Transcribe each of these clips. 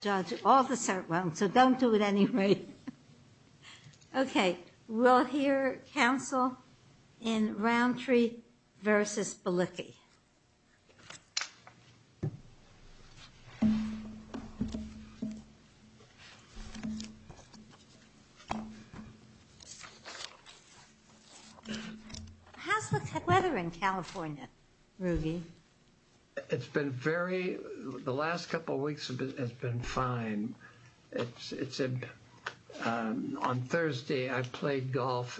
Judge officer well, so don't do it anyway Okay, we'll hear counsel in Roundtree versus Balicki How's the weather in California Ruby It's been very the last couple of weeks has been fine it's On Thursday, I played golf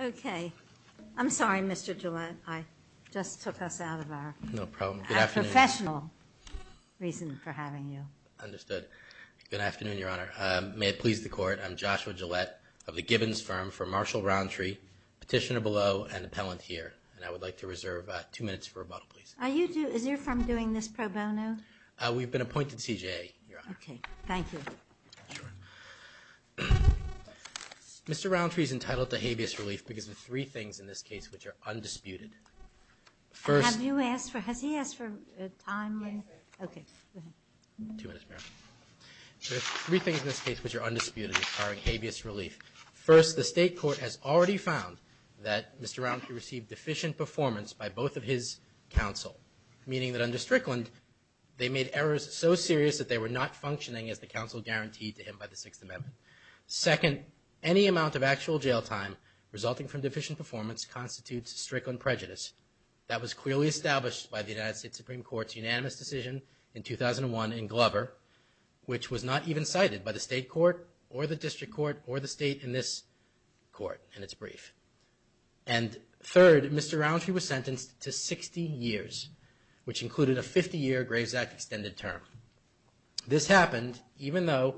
Okay, I'm sorry, mr. Gillette I just took us out of our no problem professional Reason for having you understood. Good afternoon. Your honor. May it please the court? I'm Joshua Gillette of the Gibbons firm for Marshall roundtree Petitioner below and appellant here and I would like to reserve two minutes for a bottle Please are you do is your firm doing this pro bono? We've been appointed CJA. Okay. Thank you Mr. Roundtree is entitled to habeas relief because of three things in this case, which are undisputed First have you asked for has he asked for a time? Three things in this case, which are undisputed are habeas relief first The state court has already found that mr. Roundtree received deficient performance by both of his counsel Meaning that under Strickland they made errors so serious that they were not functioning as the council guaranteed to him by the Sixth Amendment Second any amount of actual jail time resulting from deficient performance constitutes a strict on prejudice That was clearly established by the United States Supreme Court's unanimous decision in 2001 in Glover Which was not even cited by the state court or the district court or the state in this? court and it's brief and Third mr. Roundtree was sentenced to 60 years which included a 50-year Graves Act extended term This happened even though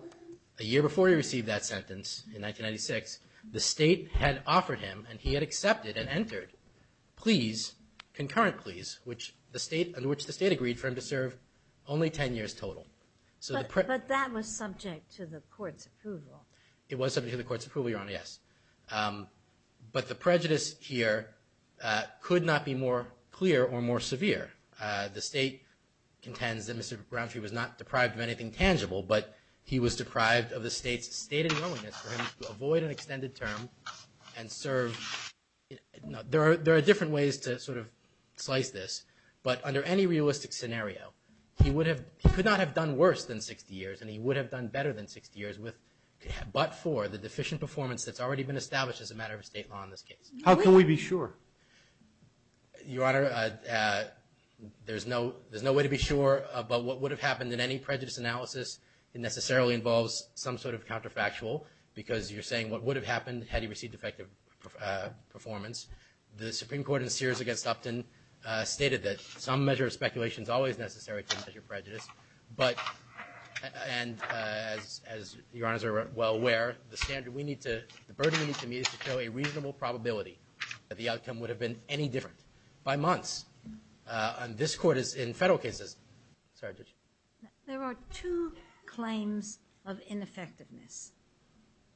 a year before he received that sentence in 1996 The state had offered him and he had accepted and entered Please Concurrent, please which the state and which the state agreed for him to serve only 10 years total So the print but that was subject to the court's approval. It was something to the court's approval your honor. Yes But the prejudice here Could not be more clear or more severe the state Contends that mr. Brown she was not deprived of anything tangible But he was deprived of the state's state and willingness to avoid an extended term and serve There are there are different ways to sort of slice this but under any realistic scenario He would have could not have done worse than 60 years and he would have done better than 60 years with But for the deficient performance that's already been established as a matter of state law in this case. How can we be sure? your honor There's no there's no way to be sure about what would have happened in any prejudice analysis It necessarily involves some sort of counterfactual because you're saying what would have happened had he received effective performance the Supreme Court and Sears against Upton stated that some measure of speculation is always necessary to measure prejudice, but and As your honors are well aware the standard we need to the burden in the community to show a reasonable probability That the outcome would have been any different by months And this court is in federal cases There are two claims of ineffectiveness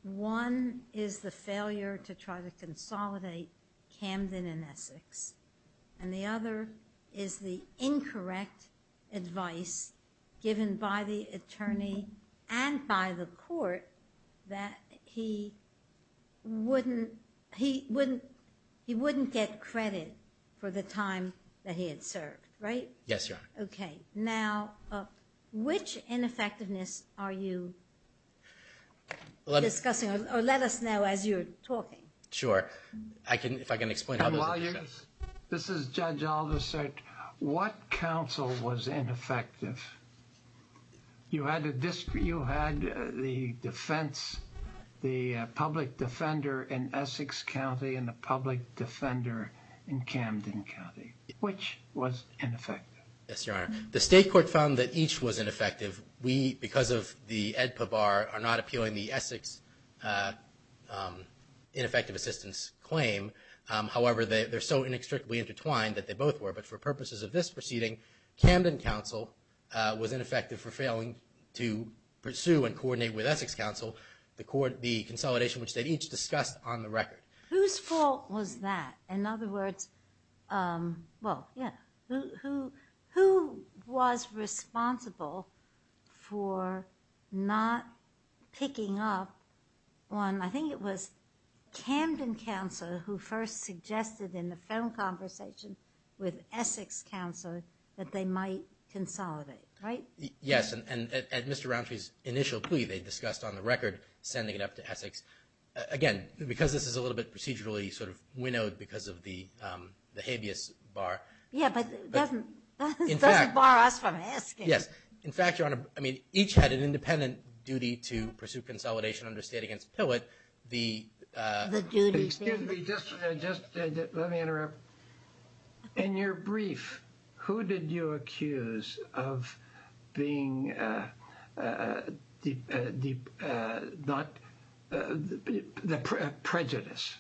One is the failure to try to consolidate Camden and Essex and the other is the incorrect advice given by the attorney and by the court that he Wouldn't he wouldn't he wouldn't get credit for the time that he had served, right? Yes. Yeah. Okay now Which ineffectiveness are you? Discussing or let us know as you're talking. Sure. I can if I can explain This is judge Oliver said what counsel was ineffective? You had a district you had the defense The public defender in Essex County and the public defender in Camden County Which was ineffective? Yes, your honor The state court found that each was ineffective we because of the edpa bar are not appealing the Essex Ineffective assistance claim However, they're so inextricably intertwined that they both were but for purposes of this proceeding Camden Council was ineffective for failing to Pursue and coordinate with Essex Council the court the consolidation which they each discussed on the record whose fault was that in other words? Well, yeah who who was responsible for Not Picking up one I think it was Camden Council who first suggested in the phone conversation with Essex Council that they might Consolidate right? Yes, and at mr. Rountree's initial plea they discussed on the record sending it up to Essex again, because this is a little bit procedurally sort of winnowed because of the The habeas bar. Yeah Yes, in fact your honor, I mean each had an independent duty to pursue consolidation under state against Pillow it the In your brief, who did you accuse of being Not the prejudice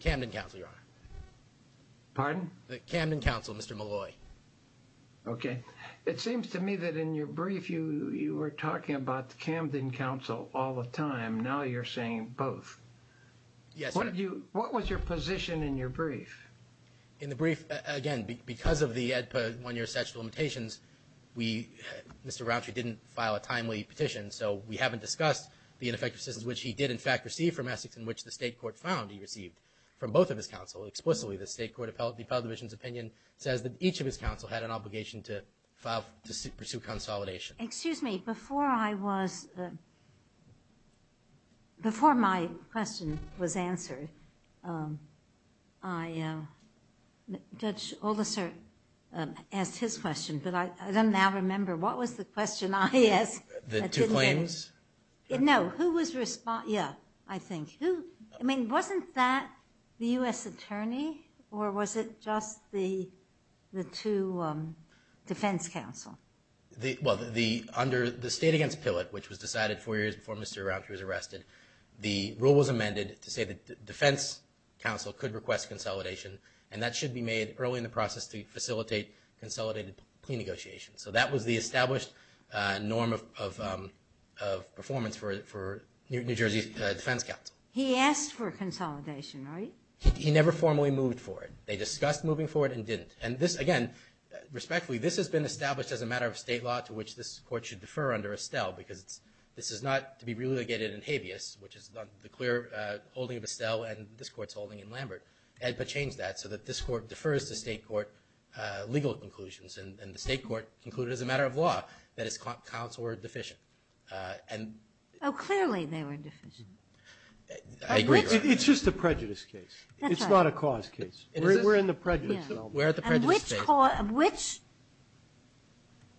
Camden Council Pardon the Camden Council. Mr. Malloy Okay, it seems to me that in your brief you you were talking about the Camden Council all the time. Now you're saying both Yes, what did you what was your position in your brief in the brief again because of the one-year sexual limitations we Mr. Rountree didn't file a timely petition So we haven't discussed the ineffective systems which he did in fact receive from Essex in which the state court found he received from both of his counsel explicitly the state court appellate the Appellate Division's opinion says that each of his counsel had an obligation to file to pursue consolidation, excuse me before I was Before my question was answered I Judge all the sir Asked his question, but I don't now remember. What was the question? I asked the two claims No, who was respond. Yeah, I think who I mean wasn't that the US Attorney or was it just the the two defense counsel The well the under the state against Pillow it which was decided four years before. Mr Rountree was arrested the rule was amended to say that the defense Council could request consolidation and that should be made early in the process to facilitate consolidated plea negotiations, so that was the established norm of Performance for it for New Jersey Defense Council. He asked for consolidation, right? He never formally moved for it. They discussed moving forward and didn't and this again Respectfully this has been established as a matter of state law to which this court should defer under Estelle because it's this is not to Be really get it in habeas, which is the clear holding of Estelle and this courts holding in Lambert I had but changed that so that this court defers to state court Legal conclusions and the state court concluded as a matter of law that is caught counselor deficient and oh clearly they were It's just a prejudice case it's not a cause case we're in the prejudice. We're at the prejudice of which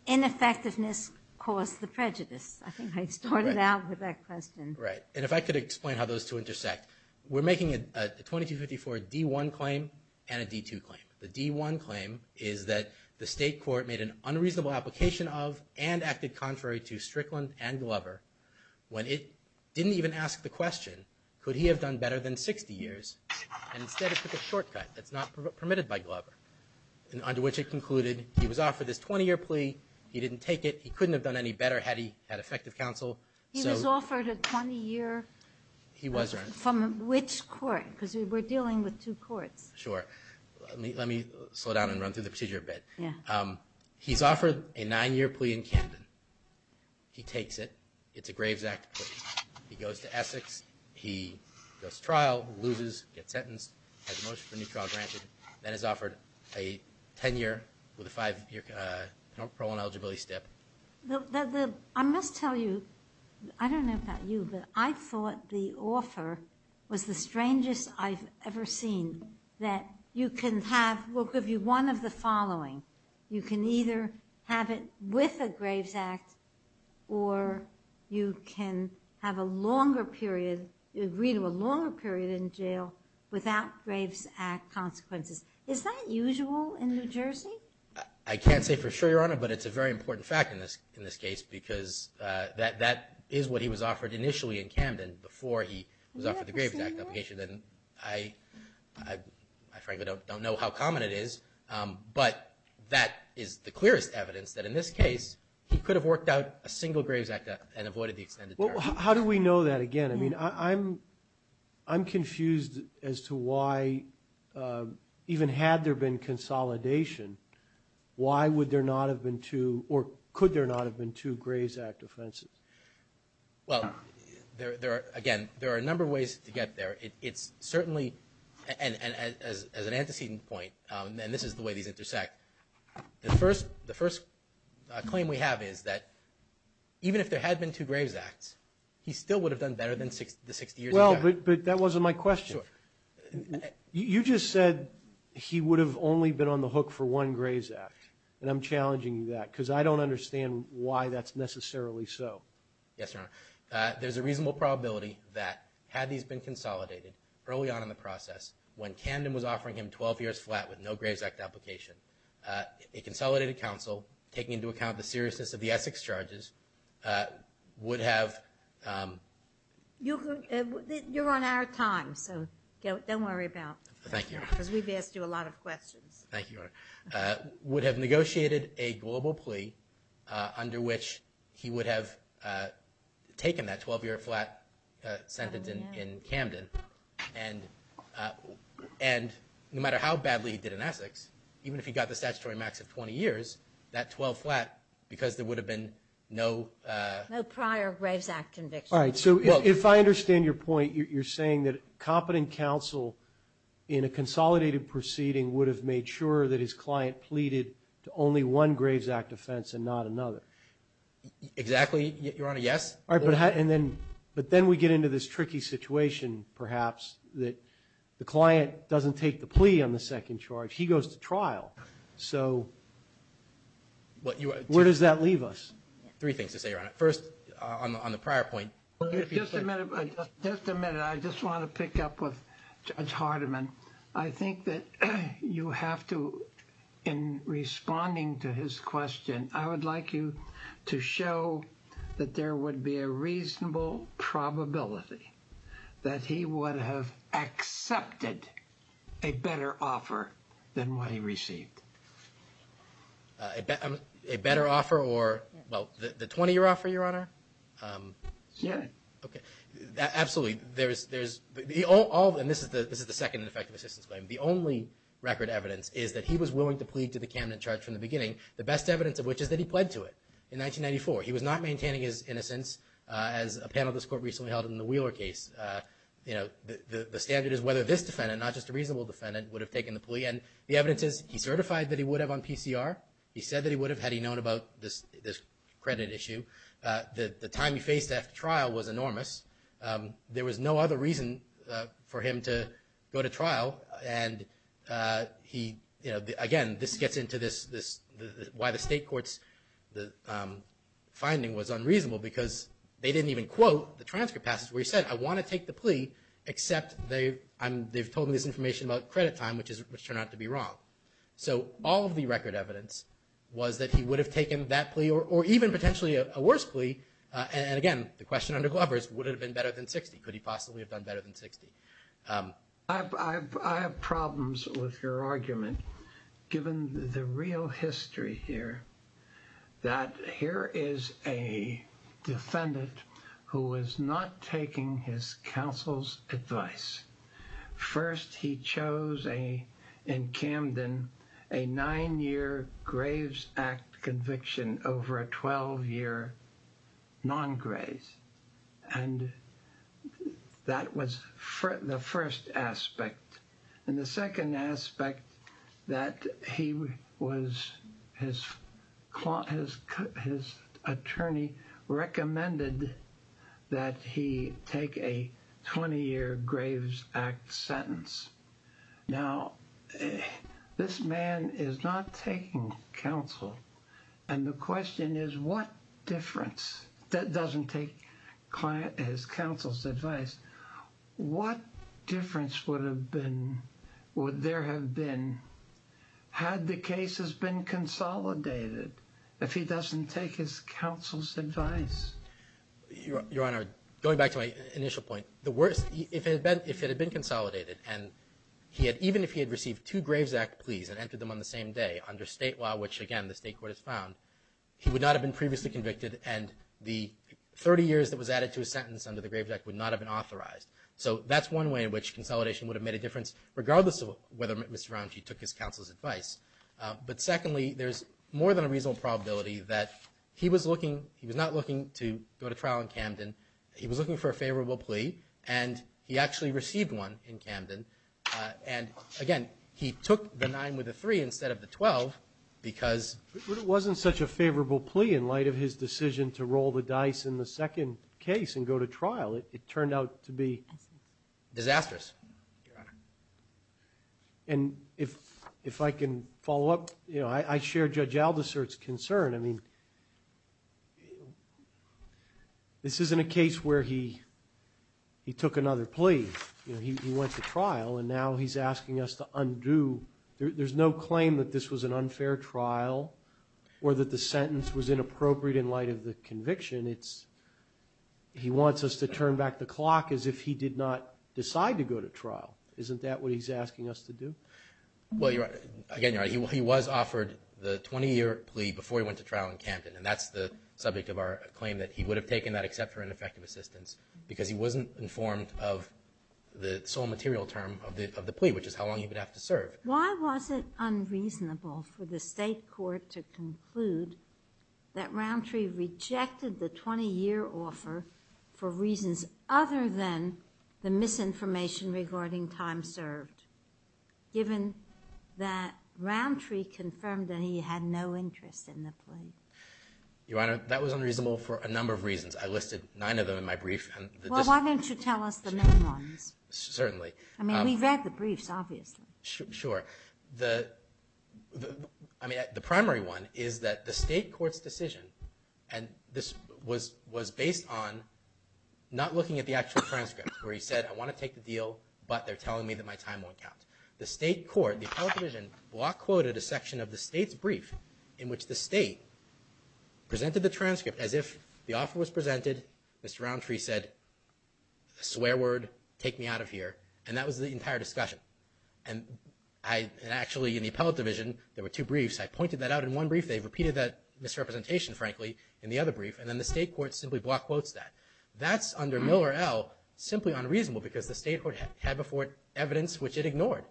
Ineffectiveness caused the prejudice I think I started out with that question, right and if I could explain how those two intersect We're making it 2254 d1 claim and a d2 claim the d1 claim Is that the state court made an unreasonable application of and acted contrary to Strickland and Glover? When it didn't even ask the question could he have done better than 60 years and instead of took a shortcut That's not permitted by Glover and under which it concluded. He was offered this 20-year plea. He didn't take it He couldn't have done any better had he had effective counsel. He was offered a 20-year He wasn't from which court because we were dealing with two courts sure Let me slow down and run through the procedure a bit. Yeah, he's offered a nine-year plea in Camden He takes it. It's a Graves Act He goes to Essex. He goes trial loses get sentenced That is offered a ten-year with a five-year Pro on eligibility step I must tell you I don't know about you, but I thought the offer was the strangest I've ever seen that you can have will give you one of the following you can either have it with a Graves Act or You can have a longer period you agree to a longer period in jail without Graves Act Consequences is that usual in New Jersey? I can't say for sure your honor but it's a very important fact in this in this case because that that is what he was offered initially in Camden before he was offered the Graves Act obligation, then I Frankly don't know how common it is But that is the clearest evidence that in this case He could have worked out a single Graves Act and avoided the extended. Well, how do we know that again? I mean, I'm I'm confused as to why Even had there been consolidation Why would there not have been two or could there not have been two Graves Act offenses? Well, there there again. There are a number of ways to get there It's certainly and as an antecedent point and this is the way these intersect the first the first Claim we have is that Even if there had been two Graves Acts, he still would have done better than six to sixty years. Well, but that wasn't my question You just said He would have only been on the hook for one Graves Act and I'm challenging that because I don't understand why that's necessarily so Yes, sir There's a reasonable probability that had these been consolidated early on in the process when Camden was offering him 12 years flat with no Graves Act application a Consolidated counsel taking into account the seriousness of the Essex charges would have You You're on our time so don't worry about thank you because we've asked you a lot of questions. Thank you Would have negotiated a global plea under which he would have Taken that 12-year flat sentence in Camden and and No matter how badly he did in Essex Even if he got the statutory max of 20 years that 12 flat because there would have been no Prior Graves Act conviction. All right. So if I understand your point, you're saying that competent counsel in a Consolidated proceeding would have made sure that his client pleaded to only one Graves Act offense and not another Exactly. You're on a yes. All right, but how and then but then we get into this tricky situation Perhaps that the client doesn't take the plea on the second charge. He goes to trial. So What you where does that leave us three things to say right first on the prior point Just a minute. I just want to pick up with judge Hardiman. I think that you have to in Responding to his question. I would like you to show that there would be a reasonable probability that he would have Accepted a better offer than what he received A Better offer or well the 20-year offer your honor Yeah, okay Absolutely, there's there's the all and this is the this is the second and effective assistance claim The only record evidence is that he was willing to plead to the Camden charge from the beginning the best evidence of which is that He pled to it in 1994. He was not maintaining his innocence as a panel this court recently held in the Wheeler case You know The standard is whether this defendant not just a reasonable defendant would have taken the plea and the evidence is he certified that he would Have on PCR. He said that he would have had he known about this this credit issue The the time he faced after trial was enormous there was no other reason for him to go to trial and He you know again this gets into this this why the state courts the They didn't even quote the transcript passes where he said I want to take the plea Except they I'm they've told me this information about credit time, which is which turned out to be wrong So all of the record evidence was that he would have taken that plea or even potentially a worse plea And again, the question under Glovers would have been better than 60. Could he possibly have done better than 60? I Have problems with your argument given the real history here that here is a Defendant who was not taking his counsel's advice First he chose a in Camden a nine-year Graves Act conviction over a 12-year non-graze and That was for the first aspect and the second aspect that he was his His attorney Recommended that he take a 20-year Graves Act sentence now This man is not taking counsel and the question is what difference that doesn't take Client as counsel's advice What difference would have been would there have been? Had the case has been consolidated If he doesn't take his counsel's advice your honor going back to my initial point the worst if it had been if it had been consolidated and He had even if he had received two Graves Act pleas and entered them on the same day under state law which again the state court has found he would not have been previously convicted and the 30 years that was added to a sentence under the Graves Act would not have been authorized So that's one way in which consolidation would have made a difference regardless of whether mr. Ramji took his counsel's advice But secondly, there's more than a reasonable probability that he was looking he was not looking to go to trial in Camden He was looking for a favorable plea and he actually received one in Camden And again, he took the nine with the three instead of the twelve Because it wasn't such a favorable plea in light of his decision to roll the dice in the second case and go to trial it turned out to be disastrous And if if I can follow up, you know, I share judge Aldous sir, it's concern I mean This isn't a case where he He took another plea, you know, he went to trial and now he's asking us to undo There's no claim that this was an unfair trial or that the sentence was inappropriate in light of the conviction. It's He wants us to turn back the clock as if he did not decide to go to trial Isn't that what he's asking us to do? Well, you're again He was offered the 20-year plea before he went to trial in Camden and that's the subject of our claim that he would have taken that except for an effective assistance because he wasn't informed of The sole material term of the plea which is how long you would have to serve Why was it unreasonable for the state court to conclude? That roundtree Rejected the 20-year offer for reasons other than the misinformation regarding time served given that Roundtree confirmed that he had no interest in the plea Your honor that was unreasonable for a number of reasons. I listed nine of them in my brief Well, why don't you tell us the main ones? Certainly. I mean we've read the briefs obviously sure the I Is that the state courts decision and this was was based on Not looking at the actual transcript where he said I want to take the deal But they're telling me that my time won't count the state court the television block quoted a section of the state's brief in which the state Presented the transcript as if the offer was presented. Mr. Roundtree said a swear word take me out of here and that was the entire discussion and I Actually in the appellate division, there were two briefs. I pointed that out in one brief They've repeated that misrepresentation frankly in the other brief and then the state court simply block quotes that that's under Miller L Simply unreasonable because the state court had before it evidence, which it ignored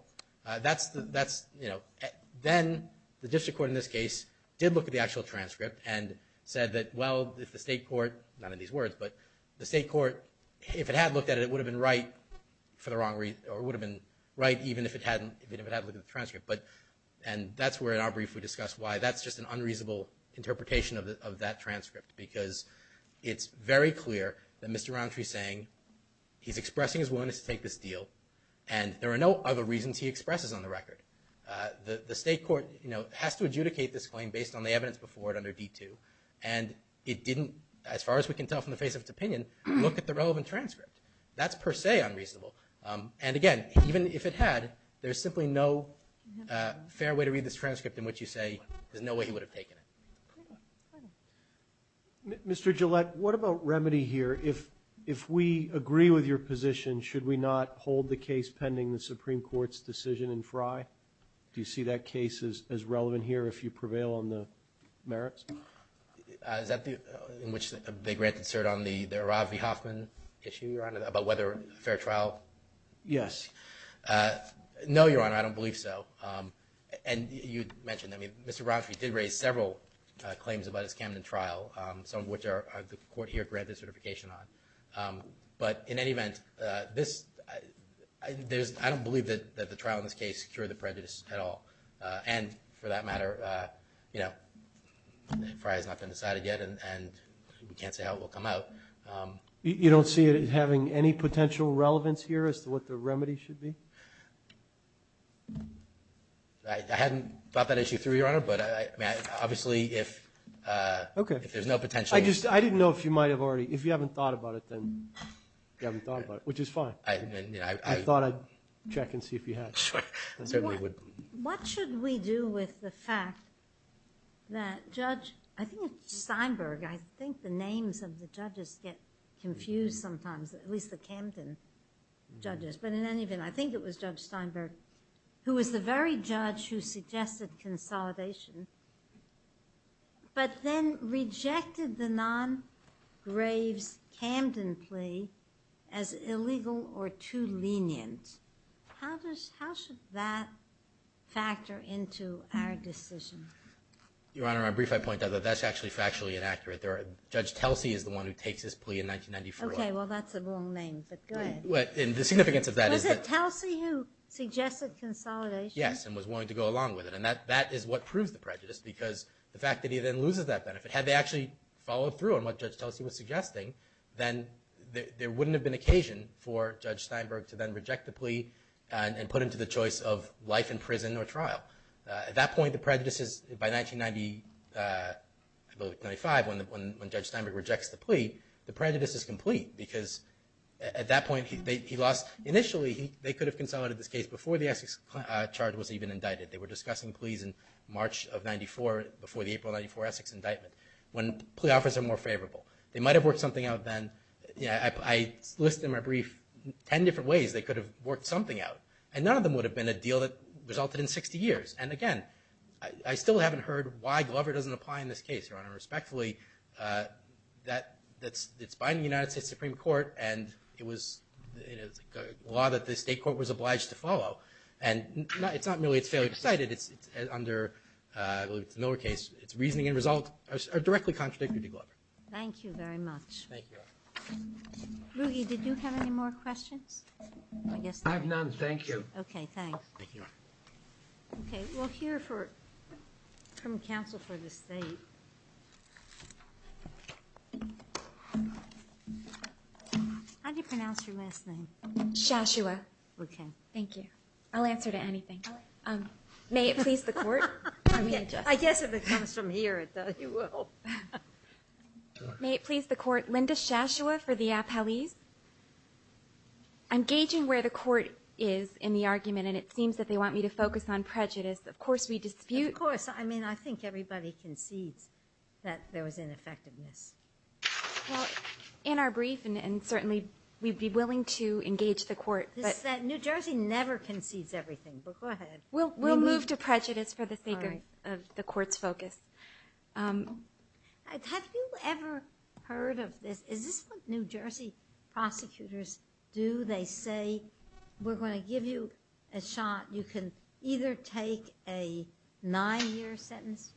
That's the that's you know Then the district court in this case did look at the actual transcript and said that well if the state court none of these words But the state court if it had looked at it would have been right For the wrong reason or would have been right even if it hadn't even if it had look at the transcript but and that's where in our brief we discuss why that's just an unreasonable interpretation of that transcript because It's very clear that mr. Roundtree saying He's expressing his willingness to take this deal and there are no other reasons he expresses on the record the the state court, you know has to adjudicate this claim based on the evidence before it under d2 and It didn't as far as we can tell from the face of its opinion. Look at the relevant transcript That's per se unreasonable. And again, even if it had there's simply no Fair way to read this transcript in which you say there's no way he would have taken it Mr. Gillette, what about remedy here if if we agree with your position Should we not hold the case pending the Supreme Court's decision in Frye? Do you see that case is as relevant here if you prevail on the merits? Is that the in which they grant insert on the there are V Hoffman issue your honor about whether fair trial yes No, your honor. I don't believe so and you mentioned. I mean, mr. Brownfield did raise several Claims about his Camden trial some of which are the court here granted certification on but in any event this There's I don't believe that that the trial in this case secure the prejudice at all and for that matter, you know Frye's not been decided yet, and we can't say how it will come out You don't see it having any potential relevance here as to what the remedy should be. I Hadn't thought that issue through your honor, but I mean obviously if Okay, if there's no potential I just I didn't know if you might have already if you haven't thought about it then Which is fine. I thought I'd check and see if you had What should we do with the fact? That judge I think it's Steinberg. I think the names of the judges get confused sometimes at least the Camden Judges, but in any event, I think it was judge Steinberg who was the very judge who suggested consolidation but then rejected the non graves Camden plea as illegal or too lenient How does how should that? factor into our decision Point out that that's actually factually inaccurate. There are judge. Telsey is the one who takes this plea in 1994 Okay. Well, that's a wrong name. But good. What in the significance of that is that Kelsey who suggested consolidation? Yes and was willing to go along with it and that that is what proves the prejudice because the fact that he then loses that benefit Had they actually followed through on what judge Chelsea was suggesting then? There wouldn't have been occasion for judge Steinberg to then reject the plea And put into the choice of life in prison or trial at that point the prejudices by 1990 95 when the judge Steinberg rejects the plea the prejudice is complete because At that point he lost initially. They could have consolidated this case before the Essex charge was even indicted They were discussing pleas in March of 94 before the April 94 Essex indictment when plea offers are more favorable They might have worked something out then. Yeah, I Listed in my brief ten different ways They could have worked something out and none of them would have been a deal that resulted in 60 years And again, I still haven't heard why Glover doesn't apply in this case, Your Honor respectfully that that's it's binding United States Supreme Court and it was Law that the state court was obliged to follow and it's not merely it's fairly decided. It's under Miller case its reasoning and results are directly contradicted to Glover. Thank you very much Rudy did you have any more questions? I have none. Thank you. Okay. Thanks here for from counsel for the state How do you pronounce your last name? Shashua, okay. Thank you. I'll answer to anything. Um, may it please the court. I guess if it comes from here May it please the court Linda Shashua for the appellees I'm gauging where the court is in the argument and it seems that they want me to focus on prejudice Of course, we dispute of course. I mean, I think everybody concedes that there was ineffectiveness In our brief and certainly we'd be willing to engage the court This is that New Jersey never concedes everything but go ahead. Well, we'll move to prejudice for the sake of the courts focus Have you ever heard of this is this New Jersey? Prosecutors do they say we're going to give you a shot. You can either take a nine-year sentence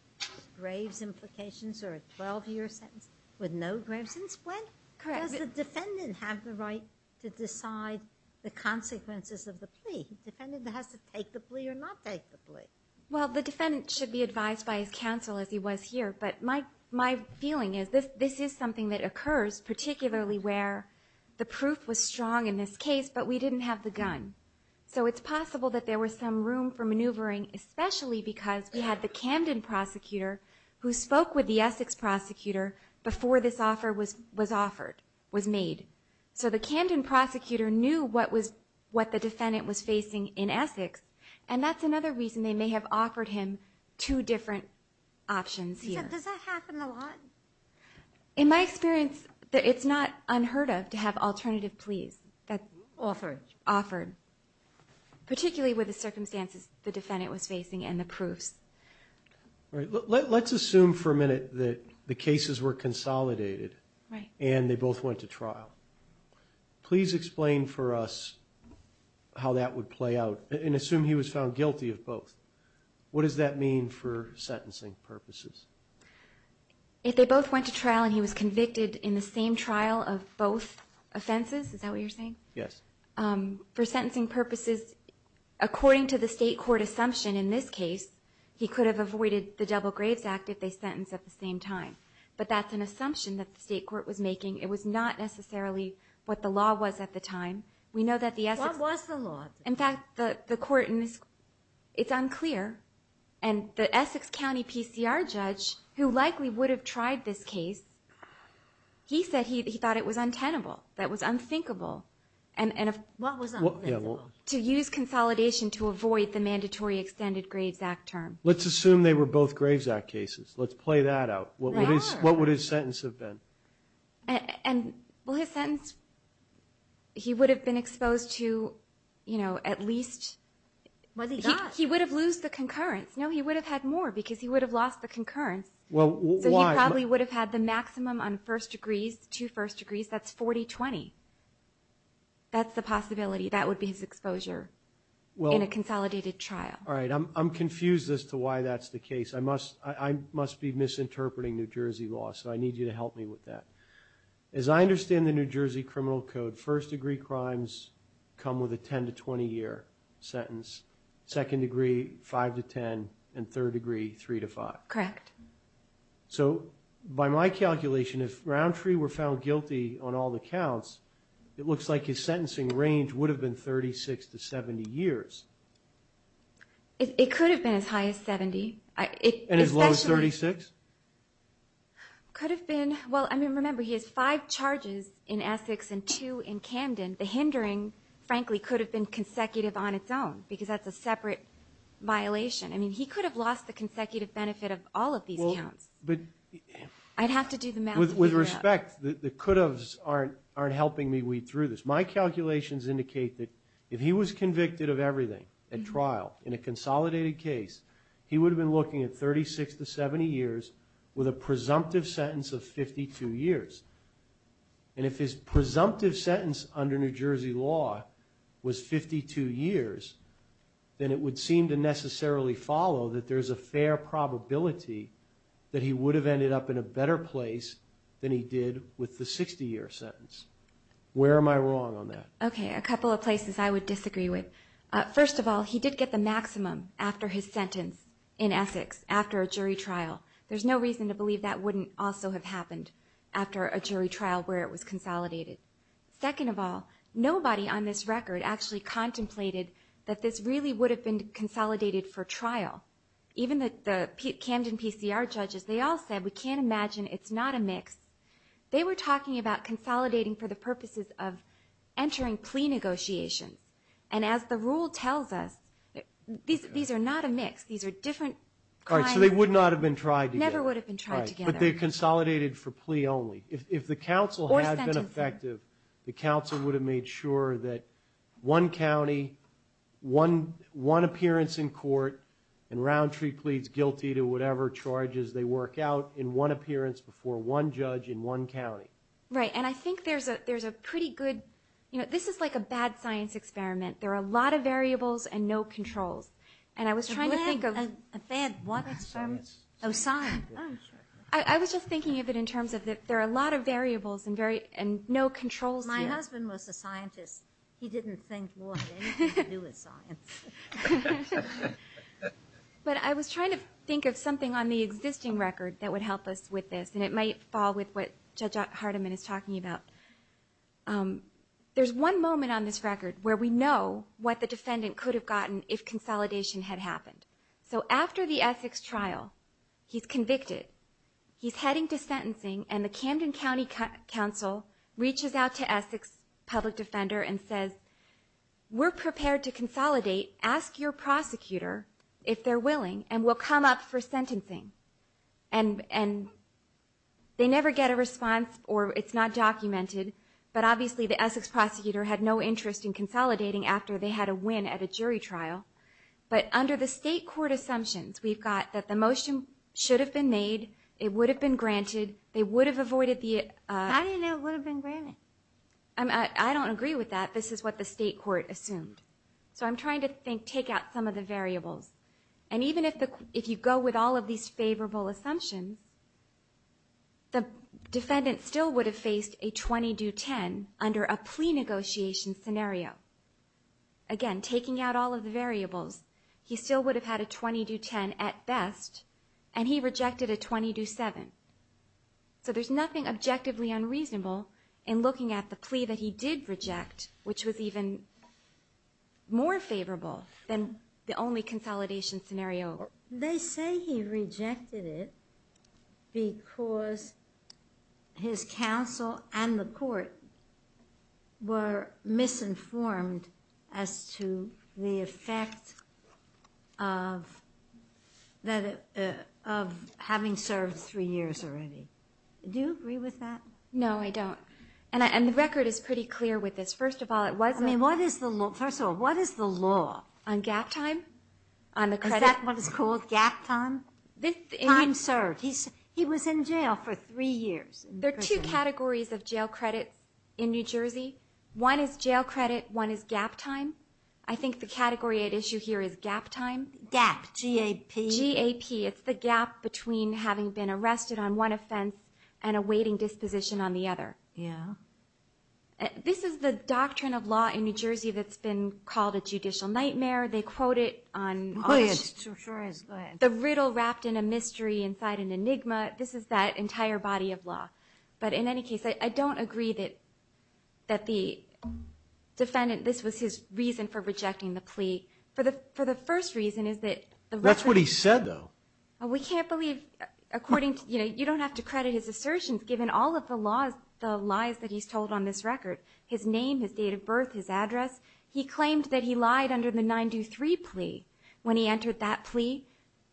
Graves implications or a 12-year sentence with no grave since when correct the defendant have the right to decide The consequences of the plea defendant has to take the plea or not take the plea Well, the defendant should be advised by his counsel as he was here But my my feeling is this this is something that occurs particularly where? The proof was strong in this case, but we didn't have the gun So it's possible that there was some room for maneuvering especially because we had the Camden prosecutor Who spoke with the Essex prosecutor before this offer was was offered was made So the Camden prosecutor knew what was what the defendant was facing in Essex and that's another reason they may have offered him two different options Does that happen a lot in my experience that it's not unheard of to have alternative pleas that offer offered Particularly with the circumstances the defendant was facing and the proofs All right. Let's assume for a minute that the cases were consolidated right and they both went to trial Please explain for us How that would play out and assume he was found guilty of both What does that mean for sentencing purposes? If they both went to trial and he was convicted in the same trial of both Offenses, is that what you're saying? Yes for sentencing purposes According to the state court assumption in this case He could have avoided the double graves act if they sentenced at the same time But that's an assumption that the state court was making it was not necessarily what the law was at the time We know that the S was the law. In fact the the court in this it's unclear and The Essex County PCR judge who likely would have tried this case He said he thought it was untenable. That was unthinkable and To use consolidation to avoid the mandatory extended Graves Act term, let's assume they were both Graves Act cases Let's play that out. What is what would his sentence have been? and well his sentence He would have been exposed to you know, at least When he got he would have losed the concurrence, you know, he would have had more because he would have lost the concurrence Well, why probably would have had the maximum on first degrees to first degrees. That's 40 20 That's the possibility. That would be his exposure Well in a consolidated trial. All right. I'm confused as to why that's the case. I must I must be misinterpreting New Jersey law So I need you to help me with that as I understand the New Jersey Criminal Code first degree crimes Come with a 10 to 20 year sentence second degree 5 to 10 and third degree 3 to 5 correct So by my calculation if roundtree were found guilty on all the counts It looks like his sentencing range would have been 36 to 70 years It could have been as high as 70 it and as low as 36 It could have been well I mean remember he has five charges in Essex and two in Camden the hindering Frankly could have been consecutive on its own because that's a separate Violation. I mean he could have lost the consecutive benefit of all of these counts, but I'd have to do the math with respect The could haves aren't aren't helping me weed through this My calculations indicate that if he was convicted of everything at trial in a consolidated case He would have been looking at 36 to 70 years with a presumptive sentence of 52 years And if his presumptive sentence under New Jersey law was 52 years Then it would seem to necessarily follow that there's a fair probability That he would have ended up in a better place than he did with the 60-year sentence Where am I wrong on that? Okay a couple of places I would disagree with first of all, he did get the maximum after his sentence in Essex after a jury trial There's no reason to believe that wouldn't also have happened after a jury trial where it was consolidated Second of all nobody on this record actually contemplated that this really would have been consolidated for trial Even that the Camden PCR judges they all said we can't imagine. It's not a mix They were talking about consolidating for the purposes of And as the rule tells us These these are not a mix. These are different cards. They would not have been tried You never would have been trying to get but they consolidated for plea only if the council has been effective The council would have made sure that one County one one appearance in court and Roundtree pleads guilty to whatever charges they work out in one appearance before one judge in one County, right? And I think there's a there's a pretty good, you know, this is like a bad science experiment There are a lot of variables and no controls and I was trying to think of a bad one It's from Oh sign. I was just thinking of it in terms of that There are a lot of variables and very and no controls. My husband was a scientist. He didn't think But I was trying to think of something on the existing record that would help us with this and it might fall with what Hardiman is talking about There's one moment on this record where we know what the defendant could have gotten if consolidation had happened So after the Essex trial, he's convicted He's heading to sentencing and the Camden County Council reaches out to Essex public defender and says we're prepared to consolidate ask your prosecutor if they're willing and we'll come up for sentencing and and They never get a response or it's not documented But obviously the Essex prosecutor had no interest in consolidating after they had a win at a jury trial But under the state court assumptions, we've got that the motion should have been made it would have been granted They would have avoided the I don't know would have been granted. I mean, I don't agree with that This is what the state court assumed so I'm trying to think take out some of the variables and even if the if you go with all of these favorable assumptions and The defendant still would have faced a 20 do 10 under a plea negotiation scenario Again taking out all of the variables. He still would have had a 20 do 10 at best and he rejected a 20 do 7 So there's nothing objectively unreasonable in looking at the plea that he did reject which was even More favorable than the only consolidation scenario. They say he rejected it Because his counsel and the court were misinformed as to the effect of That of Having served three years already. Do you agree with that? No, I don't and I and the record is pretty clear with this first of all It was I mean, what is the law first of all, what is the law on gap time? On the credit that one is called gap time this time served He's he was in jail for three years There are two categories of jail credits in New Jersey. One is jail credit. One is gap time I think the category at issue here is gap time gap G a P G a P It's the gap between having been arrested on one offense and awaiting disposition on the other. Yeah This is the doctrine of law in New Jersey. That's been called a judicial nightmare They quote it on The riddle wrapped in a mystery inside an enigma. This is that entire body of law, but in any case I don't agree that that the Defendant this was his reason for rejecting the plea for the for the first reason is that that's what he said though We can't believe According to you know You don't have to credit his assertions given all of the laws the lies that he's told on this record His name his date of birth his address He claimed that he lied under the 923 plea when he entered that plea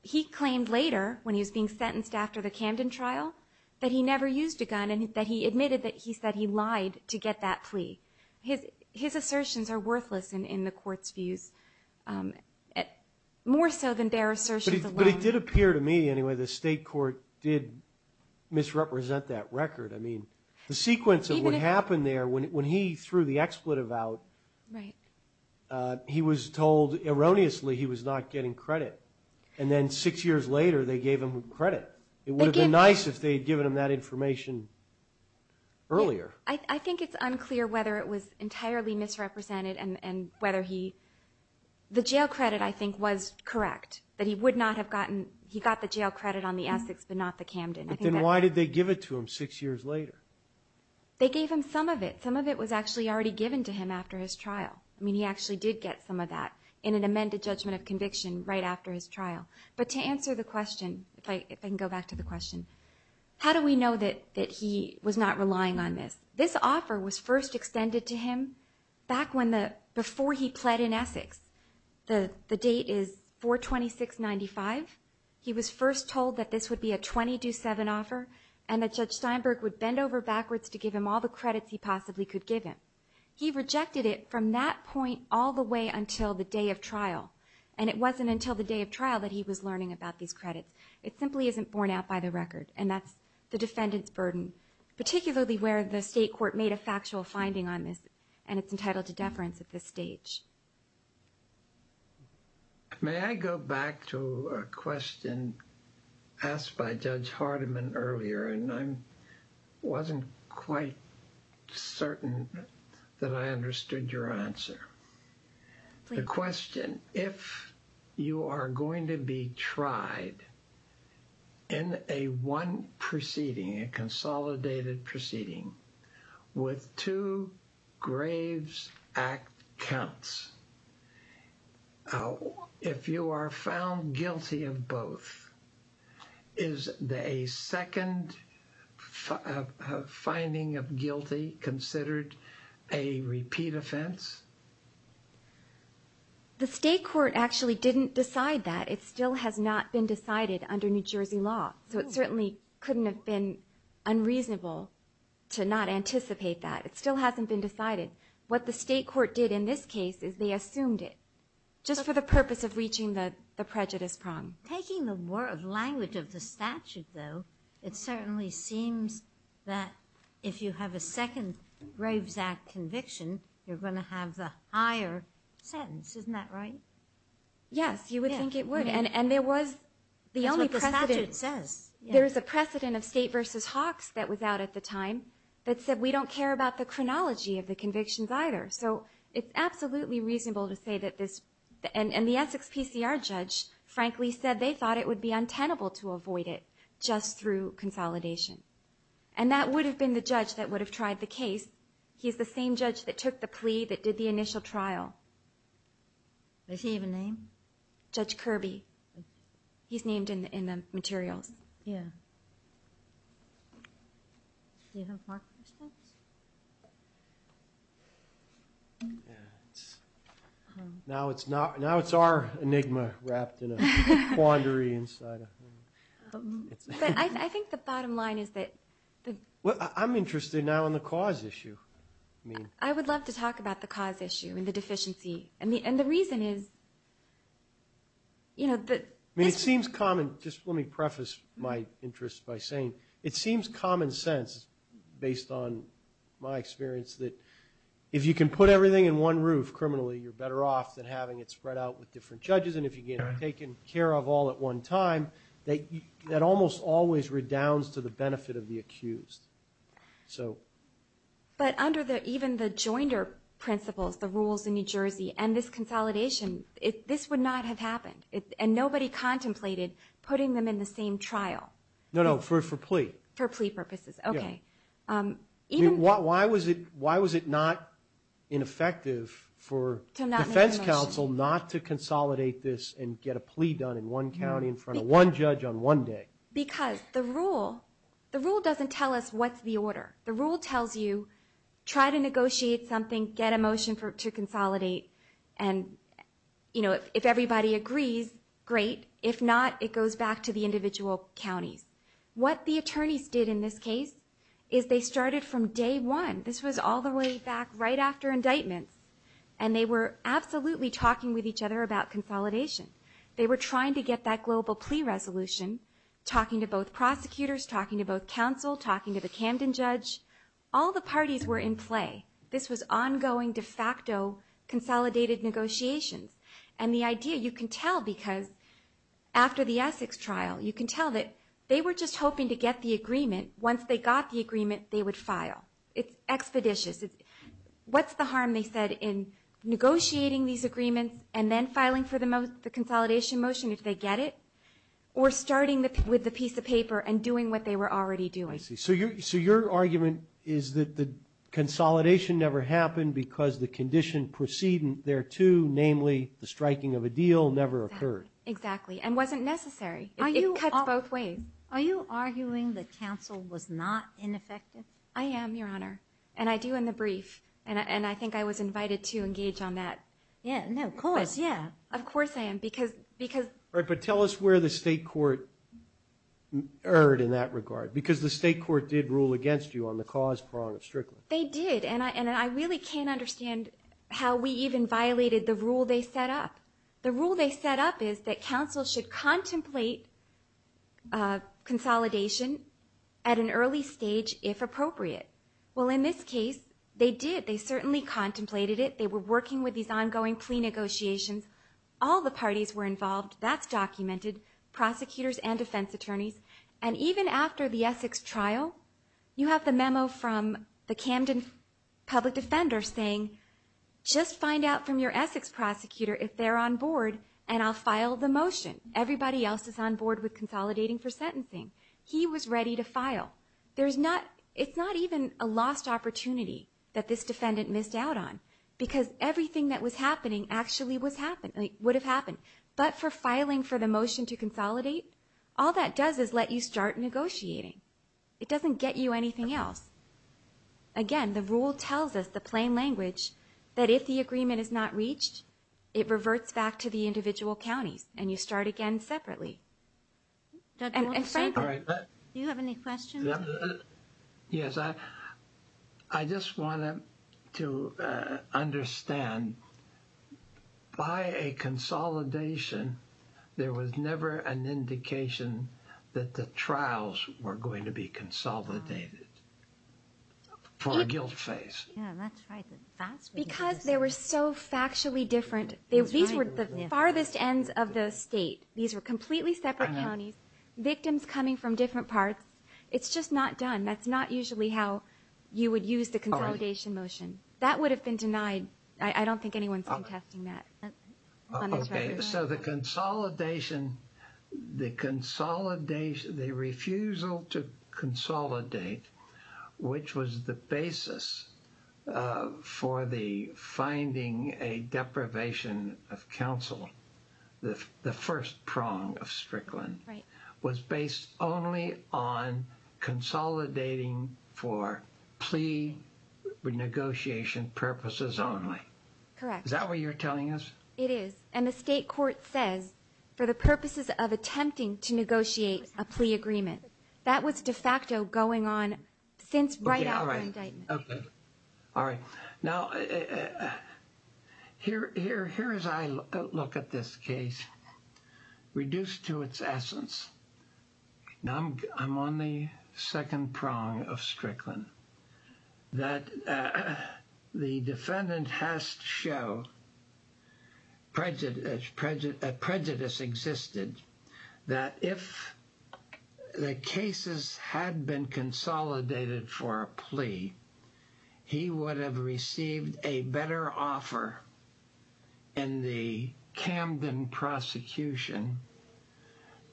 He claimed later when he was being sentenced after the Camden trial That he never used a gun and that he admitted that he said he lied to get that plea His his assertions are worthless and in the court's views At more so than their assertions, but it did appear to me. Anyway, the state court did Misrepresent that record. I mean the sequence of what happened there when he threw the expletive out, right? He was told erroneously. He was not getting credit and then six years later. They gave him credit It would have been nice if they had given him that information Earlier I think it's unclear whether it was entirely misrepresented and and whether he The jail credit I think was correct that he would not have gotten he got the jail credit on the Essex but not the Camden Then why did they give it to him six years later? They gave him some of it. Some of it was actually already given to him after his trial I mean he actually did get some of that in an amended judgment of conviction right after his trial But to answer the question if I can go back to the question How do we know that that he was not relying on this? This offer was first extended to him back when the before he pled in Essex The the date is 426.95 He was first told that this would be a 20 do 7 offer and that judge Steinberg would bend over backwards to give him all The credits he possibly could give him He rejected it from that point all the way until the day of trial and it wasn't until the day of trial that he was Learning about these credits. It simply isn't borne out by the record and that's the defendants burden Particularly where the state court made a factual finding on this and it's entitled to deference at this stage May I go back to a question asked by Judge Hardiman earlier, and I'm wasn't quite certain That I understood your answer the question if You are going to be tried in a one proceeding a consolidated proceeding with two graves act counts Oh if you are found guilty of both is the a second Finding of guilty considered a repeat offense The state court actually didn't decide that it still has not been decided under New Jersey law, so it certainly couldn't have been Unreasonable to not anticipate that it still hasn't been decided what the state court did in this case is they assumed it Just for the purpose of reaching that the prejudice prong taking the word language of the statute though It certainly seems that if you have a second graves act conviction, you're going to have the higher Sentence, isn't that right? Yes, you would think it would and and there was the only person that it says There is a precedent of state versus Hawks that was out at the time That said we don't care about the chronology of the convictions either So it's absolutely reasonable to say that this and and the Essex PCR judge frankly said they thought it would be untenable to avoid it just through consolidation and That would have been the judge that would have tried the case. He's the same judge that took the plea that did the initial trial Does he even name judge Kirby? He's named in the in the materials, yeah Now it's not now it's our enigma wrapped in a quandary inside But I think the bottom line is that Well, I'm interested now in the cause issue I mean, I would love to talk about the cause issue and the deficiency and the and the reason is You know, but I mean it seems common just let me preface my interest by saying it seems common sense Based on my experience that if you can put everything in one roof criminally You're better off than having it spread out with different judges And if you get taken care of all at one time that that almost always redounds to the benefit of the accused so But under there even the jointer Principles the rules in New Jersey and this consolidation it this would not have happened it and nobody Contemplated putting them in the same trial. No, no for for plea for plea purposes. Okay Even what why was it? Why was it not? ineffective for Defense counsel not to consolidate this and get a plea done in one county in front of one judge on one day Because the rule the rule doesn't tell us what's the order the rule tells you try to negotiate something get a motion for to consolidate and You know if everybody agrees great If not, it goes back to the individual counties what the attorneys did in this case is they started from day one This was all the way back right after indictments and they were absolutely talking with each other about consolidation They were trying to get that global plea resolution Talking to both prosecutors talking to both counsel talking to the Camden judge all the parties were in play. This was ongoing de facto consolidated negotiations and the idea you can tell because After the Essex trial you can tell that they were just hoping to get the agreement once they got the agreement they would file It's expeditious What's the harm they said in? Negotiating these agreements and then filing for the most the consolidation motion if they get it Or starting that with the piece of paper and doing what they were already doing. I see so you so your argument is that the Consolidation never happened because the condition preceding thereto Namely the striking of a deal never occurred exactly and wasn't necessary Are you cut both ways are you arguing that counsel was not ineffective? I am your honor and I do in the brief and and I think I was invited to engage on that Yeah, no, of course. Yeah, of course I am because because all right, but tell us where the state court Heard in that regard because the state court did rule against you on the cause prong of Strickland They did and I and I really can't understand how we even violated the rule They set up the rule they set up is that counsel should contemplate a Consolidation at an early stage if appropriate. Well in this case they did they certainly contemplated it They were working with these ongoing plea negotiations. All the parties were involved. That's documented Prosecutors and defense attorneys and even after the Essex trial you have the memo from the Camden public defender saying Just find out from your Essex prosecutor if they're on board and I'll file the motion Everybody else is on board with consolidating for sentencing. He was ready to file There's not it's not even a lost opportunity that this defendant missed out on Because everything that was happening actually was happening would have happened but for filing for the motion to consolidate All that does is let you start negotiating It doesn't get you anything else Again, the rule tells us the plain language that if the agreement is not reached it reverts back to the individual counties and you start again separately Yes, I I just wanted to understand by a Consolidation there was never an indication that the trials were going to be consolidated For a guilt face Because there were so factually different these were the farthest ends of the state these were completely separate counties Victims coming from different parts. It's just not done. That's not usually how you would use the consolidation motion That would have been denied. I don't think anyone's contesting that so the consolidation the consolidation the refusal to Consolidate which was the basis for the finding a deprivation of counsel the the first prong of Strickland was based only on Consolidating for plea Negotiation purposes only That way you're telling us it is and the state court says for the purposes of attempting to negotiate a plea agreement That was de facto going on since right now, right? Okay. All right now Here here here as I look at this case reduced to its essence Now I'm on the second prong of Strickland that the defendant has to show Prejudice prejudice a prejudice existed that if The cases had been consolidated for a plea He would have received a better offer in the Camden prosecution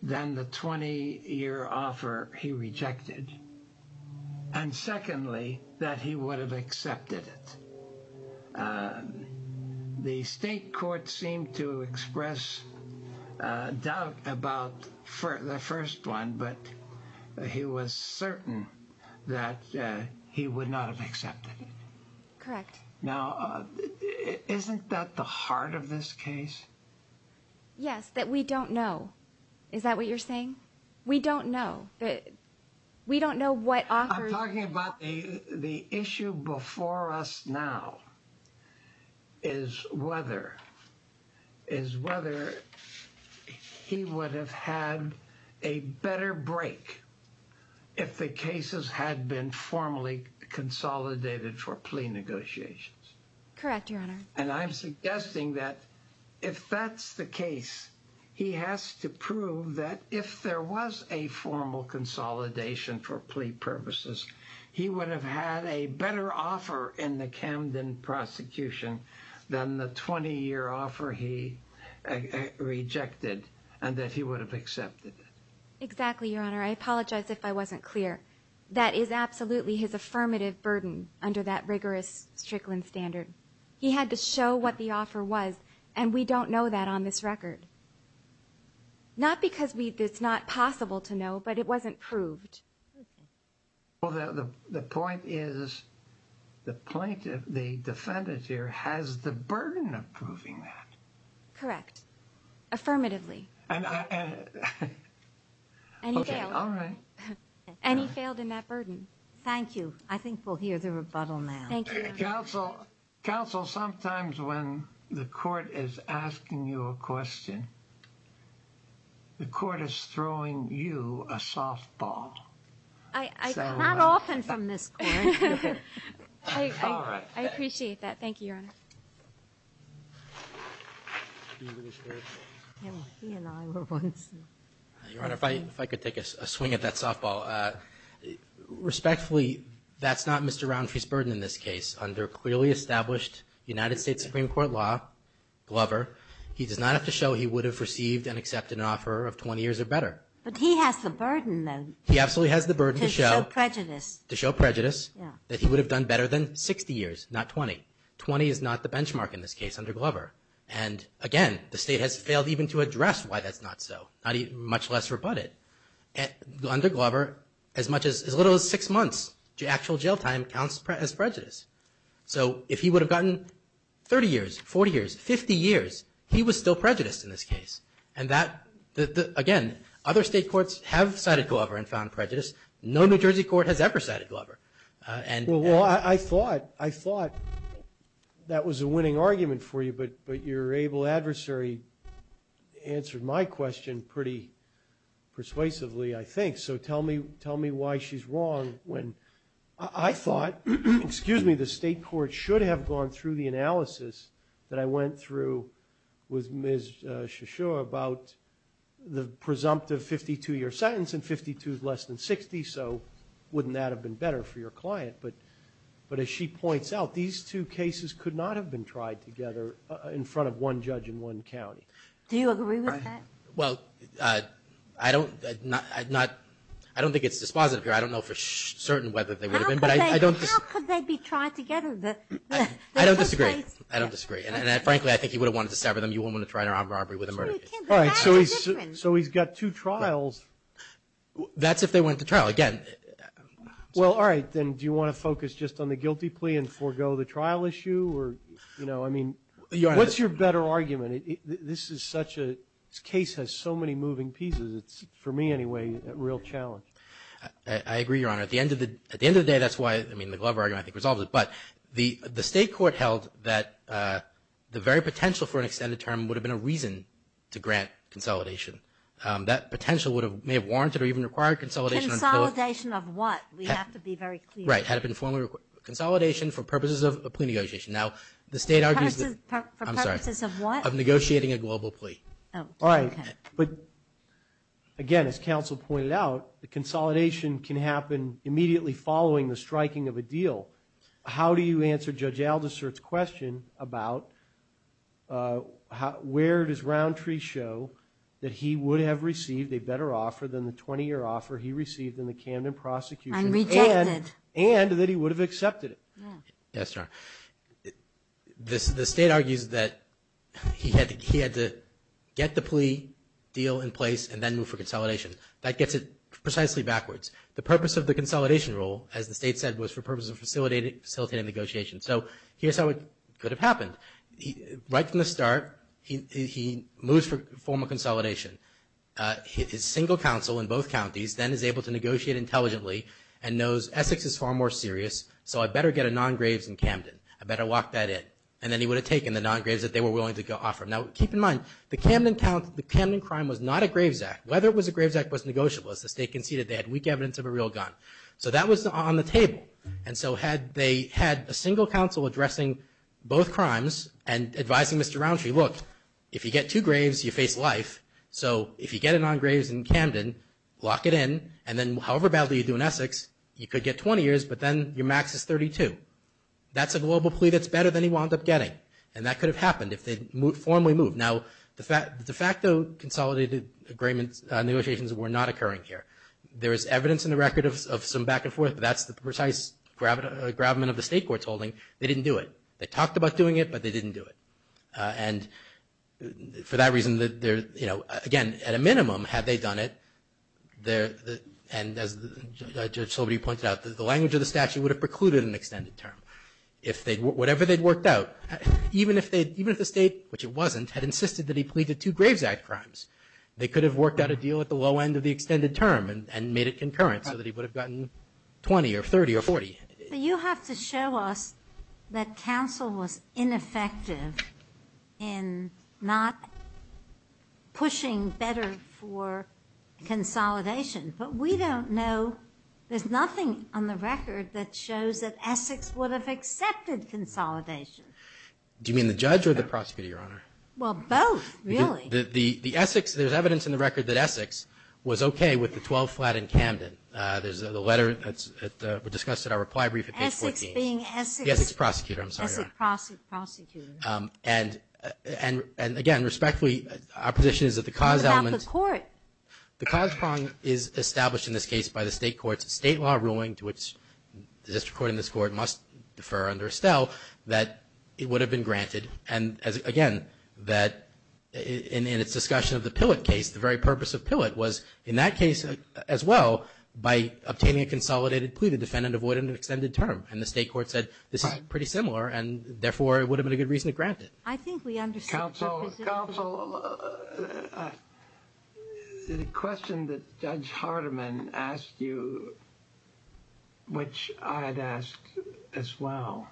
than the 20-year offer he rejected and Secondly that he would have accepted it The state court seemed to express Doubt about for the first one, but he was certain that He would not have accepted it. Correct now Isn't that the heart of this case? Yes that we don't know. Is that what you're saying? We don't know that We don't know what I'm talking about the the issue before us now is Whether is whether He would have had a better break if the cases had been formally consolidated for plea negotiations Correct your honor and I'm suggesting that if that's the case He has to prove that if there was a formal Consolidation for plea purposes. He would have had a better offer in the Camden Prosecution than the 20-year offer he Rejected and that he would have accepted it exactly your honor I apologize if I wasn't clear that is absolutely his affirmative burden under that rigorous strickland standard He had to show what the offer was and we don't know that on this record Not because we it's not possible to know but it wasn't proved well, the point is The plaintiff the defendant here has the burden of proving that correct affirmatively And he failed in that burden, thank you, I think we'll hear the rebuttal now Thank you counsel counsel. Sometimes when the court is asking you a question The court is throwing you a softball I appreciate that. Thank you Your honor fight if I could take us a swing at that softball Respectfully, that's not mr. Roundtree's burden in this case under clearly established United States Supreme Court law Glover, he does not have to show he would have received and accepted an offer of 20 years or better But he has the burden though. He absolutely has the burden to show prejudice to show prejudice Yeah that he would have done better than 60 years not 20 20 is not the benchmark in this case under Glover and Again, the state has failed even to address why that's not so not even much less rebutted Under Glover as much as little as six months to actual jail time counts as prejudice So if he would have gotten 30 years 40 years 50 years He was still prejudiced in this case and that Again, other state courts have cited Glover and found prejudice. No, New Jersey court has ever cited Glover. And well, I thought I thought That was a winning argument for you. But but your able adversary answered my question pretty Persuasively, I think so. Tell me tell me why she's wrong when I thought Excuse me. The state court should have gone through the analysis that I went through with Ms. Shisho about The presumptive 52-year sentence and 52 is less than 60 So wouldn't that have been better for your client? But but as she points out these two cases could not have been tried together in front of one judge in one County Do you agree with that? Well, I I don't not I'd not I don't think it's dispositive here I don't know for certain whether they would have been but I don't Try to rob a robbery with a murder. All right, so he's so he's got two trials That's if they went to trial again Well, all right, then do you want to focus just on the guilty plea and forego the trial issue or you know? I mean, yeah, what's your better argument? This is such a case has so many moving pieces. It's for me Anyway, a real challenge. I Agree, your honor at the end of the at the end of the day that's why I mean the Glover argument resolves it, but the the state court held that The very potential for an extended term would have been a reason to grant consolidation That potential would have may have warranted or even required consolidation Solidation of what we have to be very right had it been formerly consolidation for purposes of a plea negotiation now the state argues I'm negotiating a global plea. All right, but Again, as counsel pointed out the consolidation can happen immediately following the striking of a deal How do you answer judge Aldous Sirt's question about How where does roundtree show that he would have received a better offer than the 20-year offer He received in the Camden prosecution and and that he would have accepted it. Yes, sir this the state argues that He had he had to get the plea deal in place and then move for consolidation that gets it precisely Backwards the purpose of the consolidation rule as the state said was for purposes of facilitated facilitating negotiation So here's how it could have happened Right from the start. He moves for formal consolidation His single counsel in both counties then is able to negotiate intelligently and knows Essex is far more serious So I better get a non graves in Camden I better lock that in and then he would have taken the non graves that they were willing to go off from now Keep in mind the Camden count the Camden crime was not a graves act whether it was a graves act was negotiable as the state Conceded they had weak evidence of a real gun so that was on the table and so had they had a single counsel addressing both crimes and Advising. Mr. Roundtree looked if you get two graves you face life So if you get it on graves in Camden Lock it in and then however badly you do in Essex you could get 20 years, but then your max is 32 That's a global plea that's better than he wound up getting and that could have happened if they move formally move now the fact the fact Consolidated agreements negotiations were not occurring here. There is evidence in the record of some back-and-forth That's the precise grab grabment of the state court's holding. They didn't do it. They talked about doing it, but they didn't do it and For that reason that there's you know again at a minimum had they done it there and as the Judge told me he pointed out that the language of the statute would have precluded an extended term if they'd whatever they'd worked out Even if they'd even if the state which it wasn't had insisted that he pleaded to Graves Act crimes They could have worked out a deal at the low end of the extended term and made it concurrent so that he would have gotten 20 or 30 or 40, but you have to show us that counsel was ineffective in not Pushing better for Consolidation, but we don't know there's nothing on the record that shows that Essex would have accepted Consolidation do you mean the judge or the prosecutor your honor well both really the the the Essex there's evidence in the record that Essex Was okay with the 12 flat in Camden. There's a letter. That's discussed at our reply brief Yes, it's prosecutor. I'm sorry and and and again respectfully our position is that the cause element court the cause prong is established in this case by the state courts state law ruling to which The district court in this court must defer under Estelle that it would have been granted and as again that In its discussion of the Pillot case the very purpose of Pillot was in that case as well By obtaining a consolidated plea the defendant avoid an extended term and the state court said this is pretty similar and therefore It would have been a good reason to grant it. I think we understand The question that judge Hardiman asked you Which I had asked as well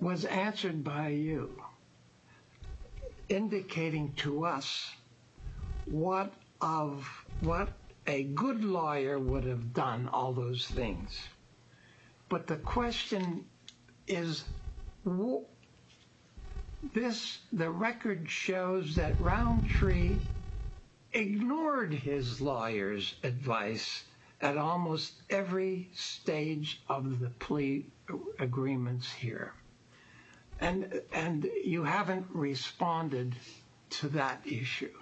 Was answered by you Indicating to us what of What a good lawyer would have done all those things but the question is This the record shows that round tree Ignored his lawyers advice at almost every stage of the plea agreements here and And you haven't responded to that issue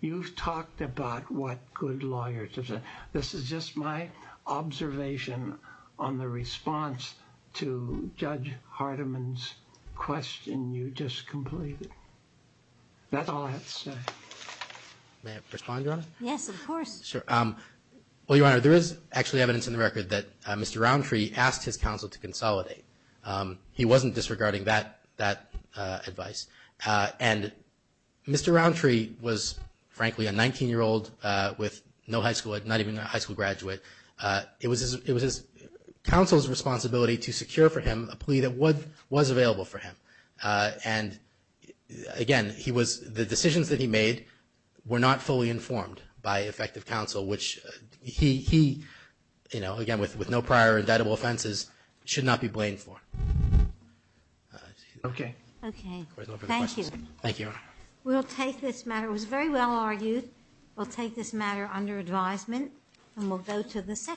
You've talked about what good lawyers have said. This is just my observation on the response to judge Hardiman's Question you just completed That's all I have to say May have responded on it. Yes, of course. Sure Well, your honor there is actually evidence in the record that mr. Roundtree asked his counsel to consolidate He wasn't disregarding that that advice and Mr. Roundtree was frankly a 19 year old with no high school. I'd not even a high school graduate it was it was his counsel's responsibility to secure for him a plea that would was available for him and Again he was the decisions that he made were not fully informed by effective counsel, which he he You know again with with no prior indictable offenses should not be blamed for Okay Thank you, we'll take this matter was very well argued we'll take this matter under advisement and we'll go to the second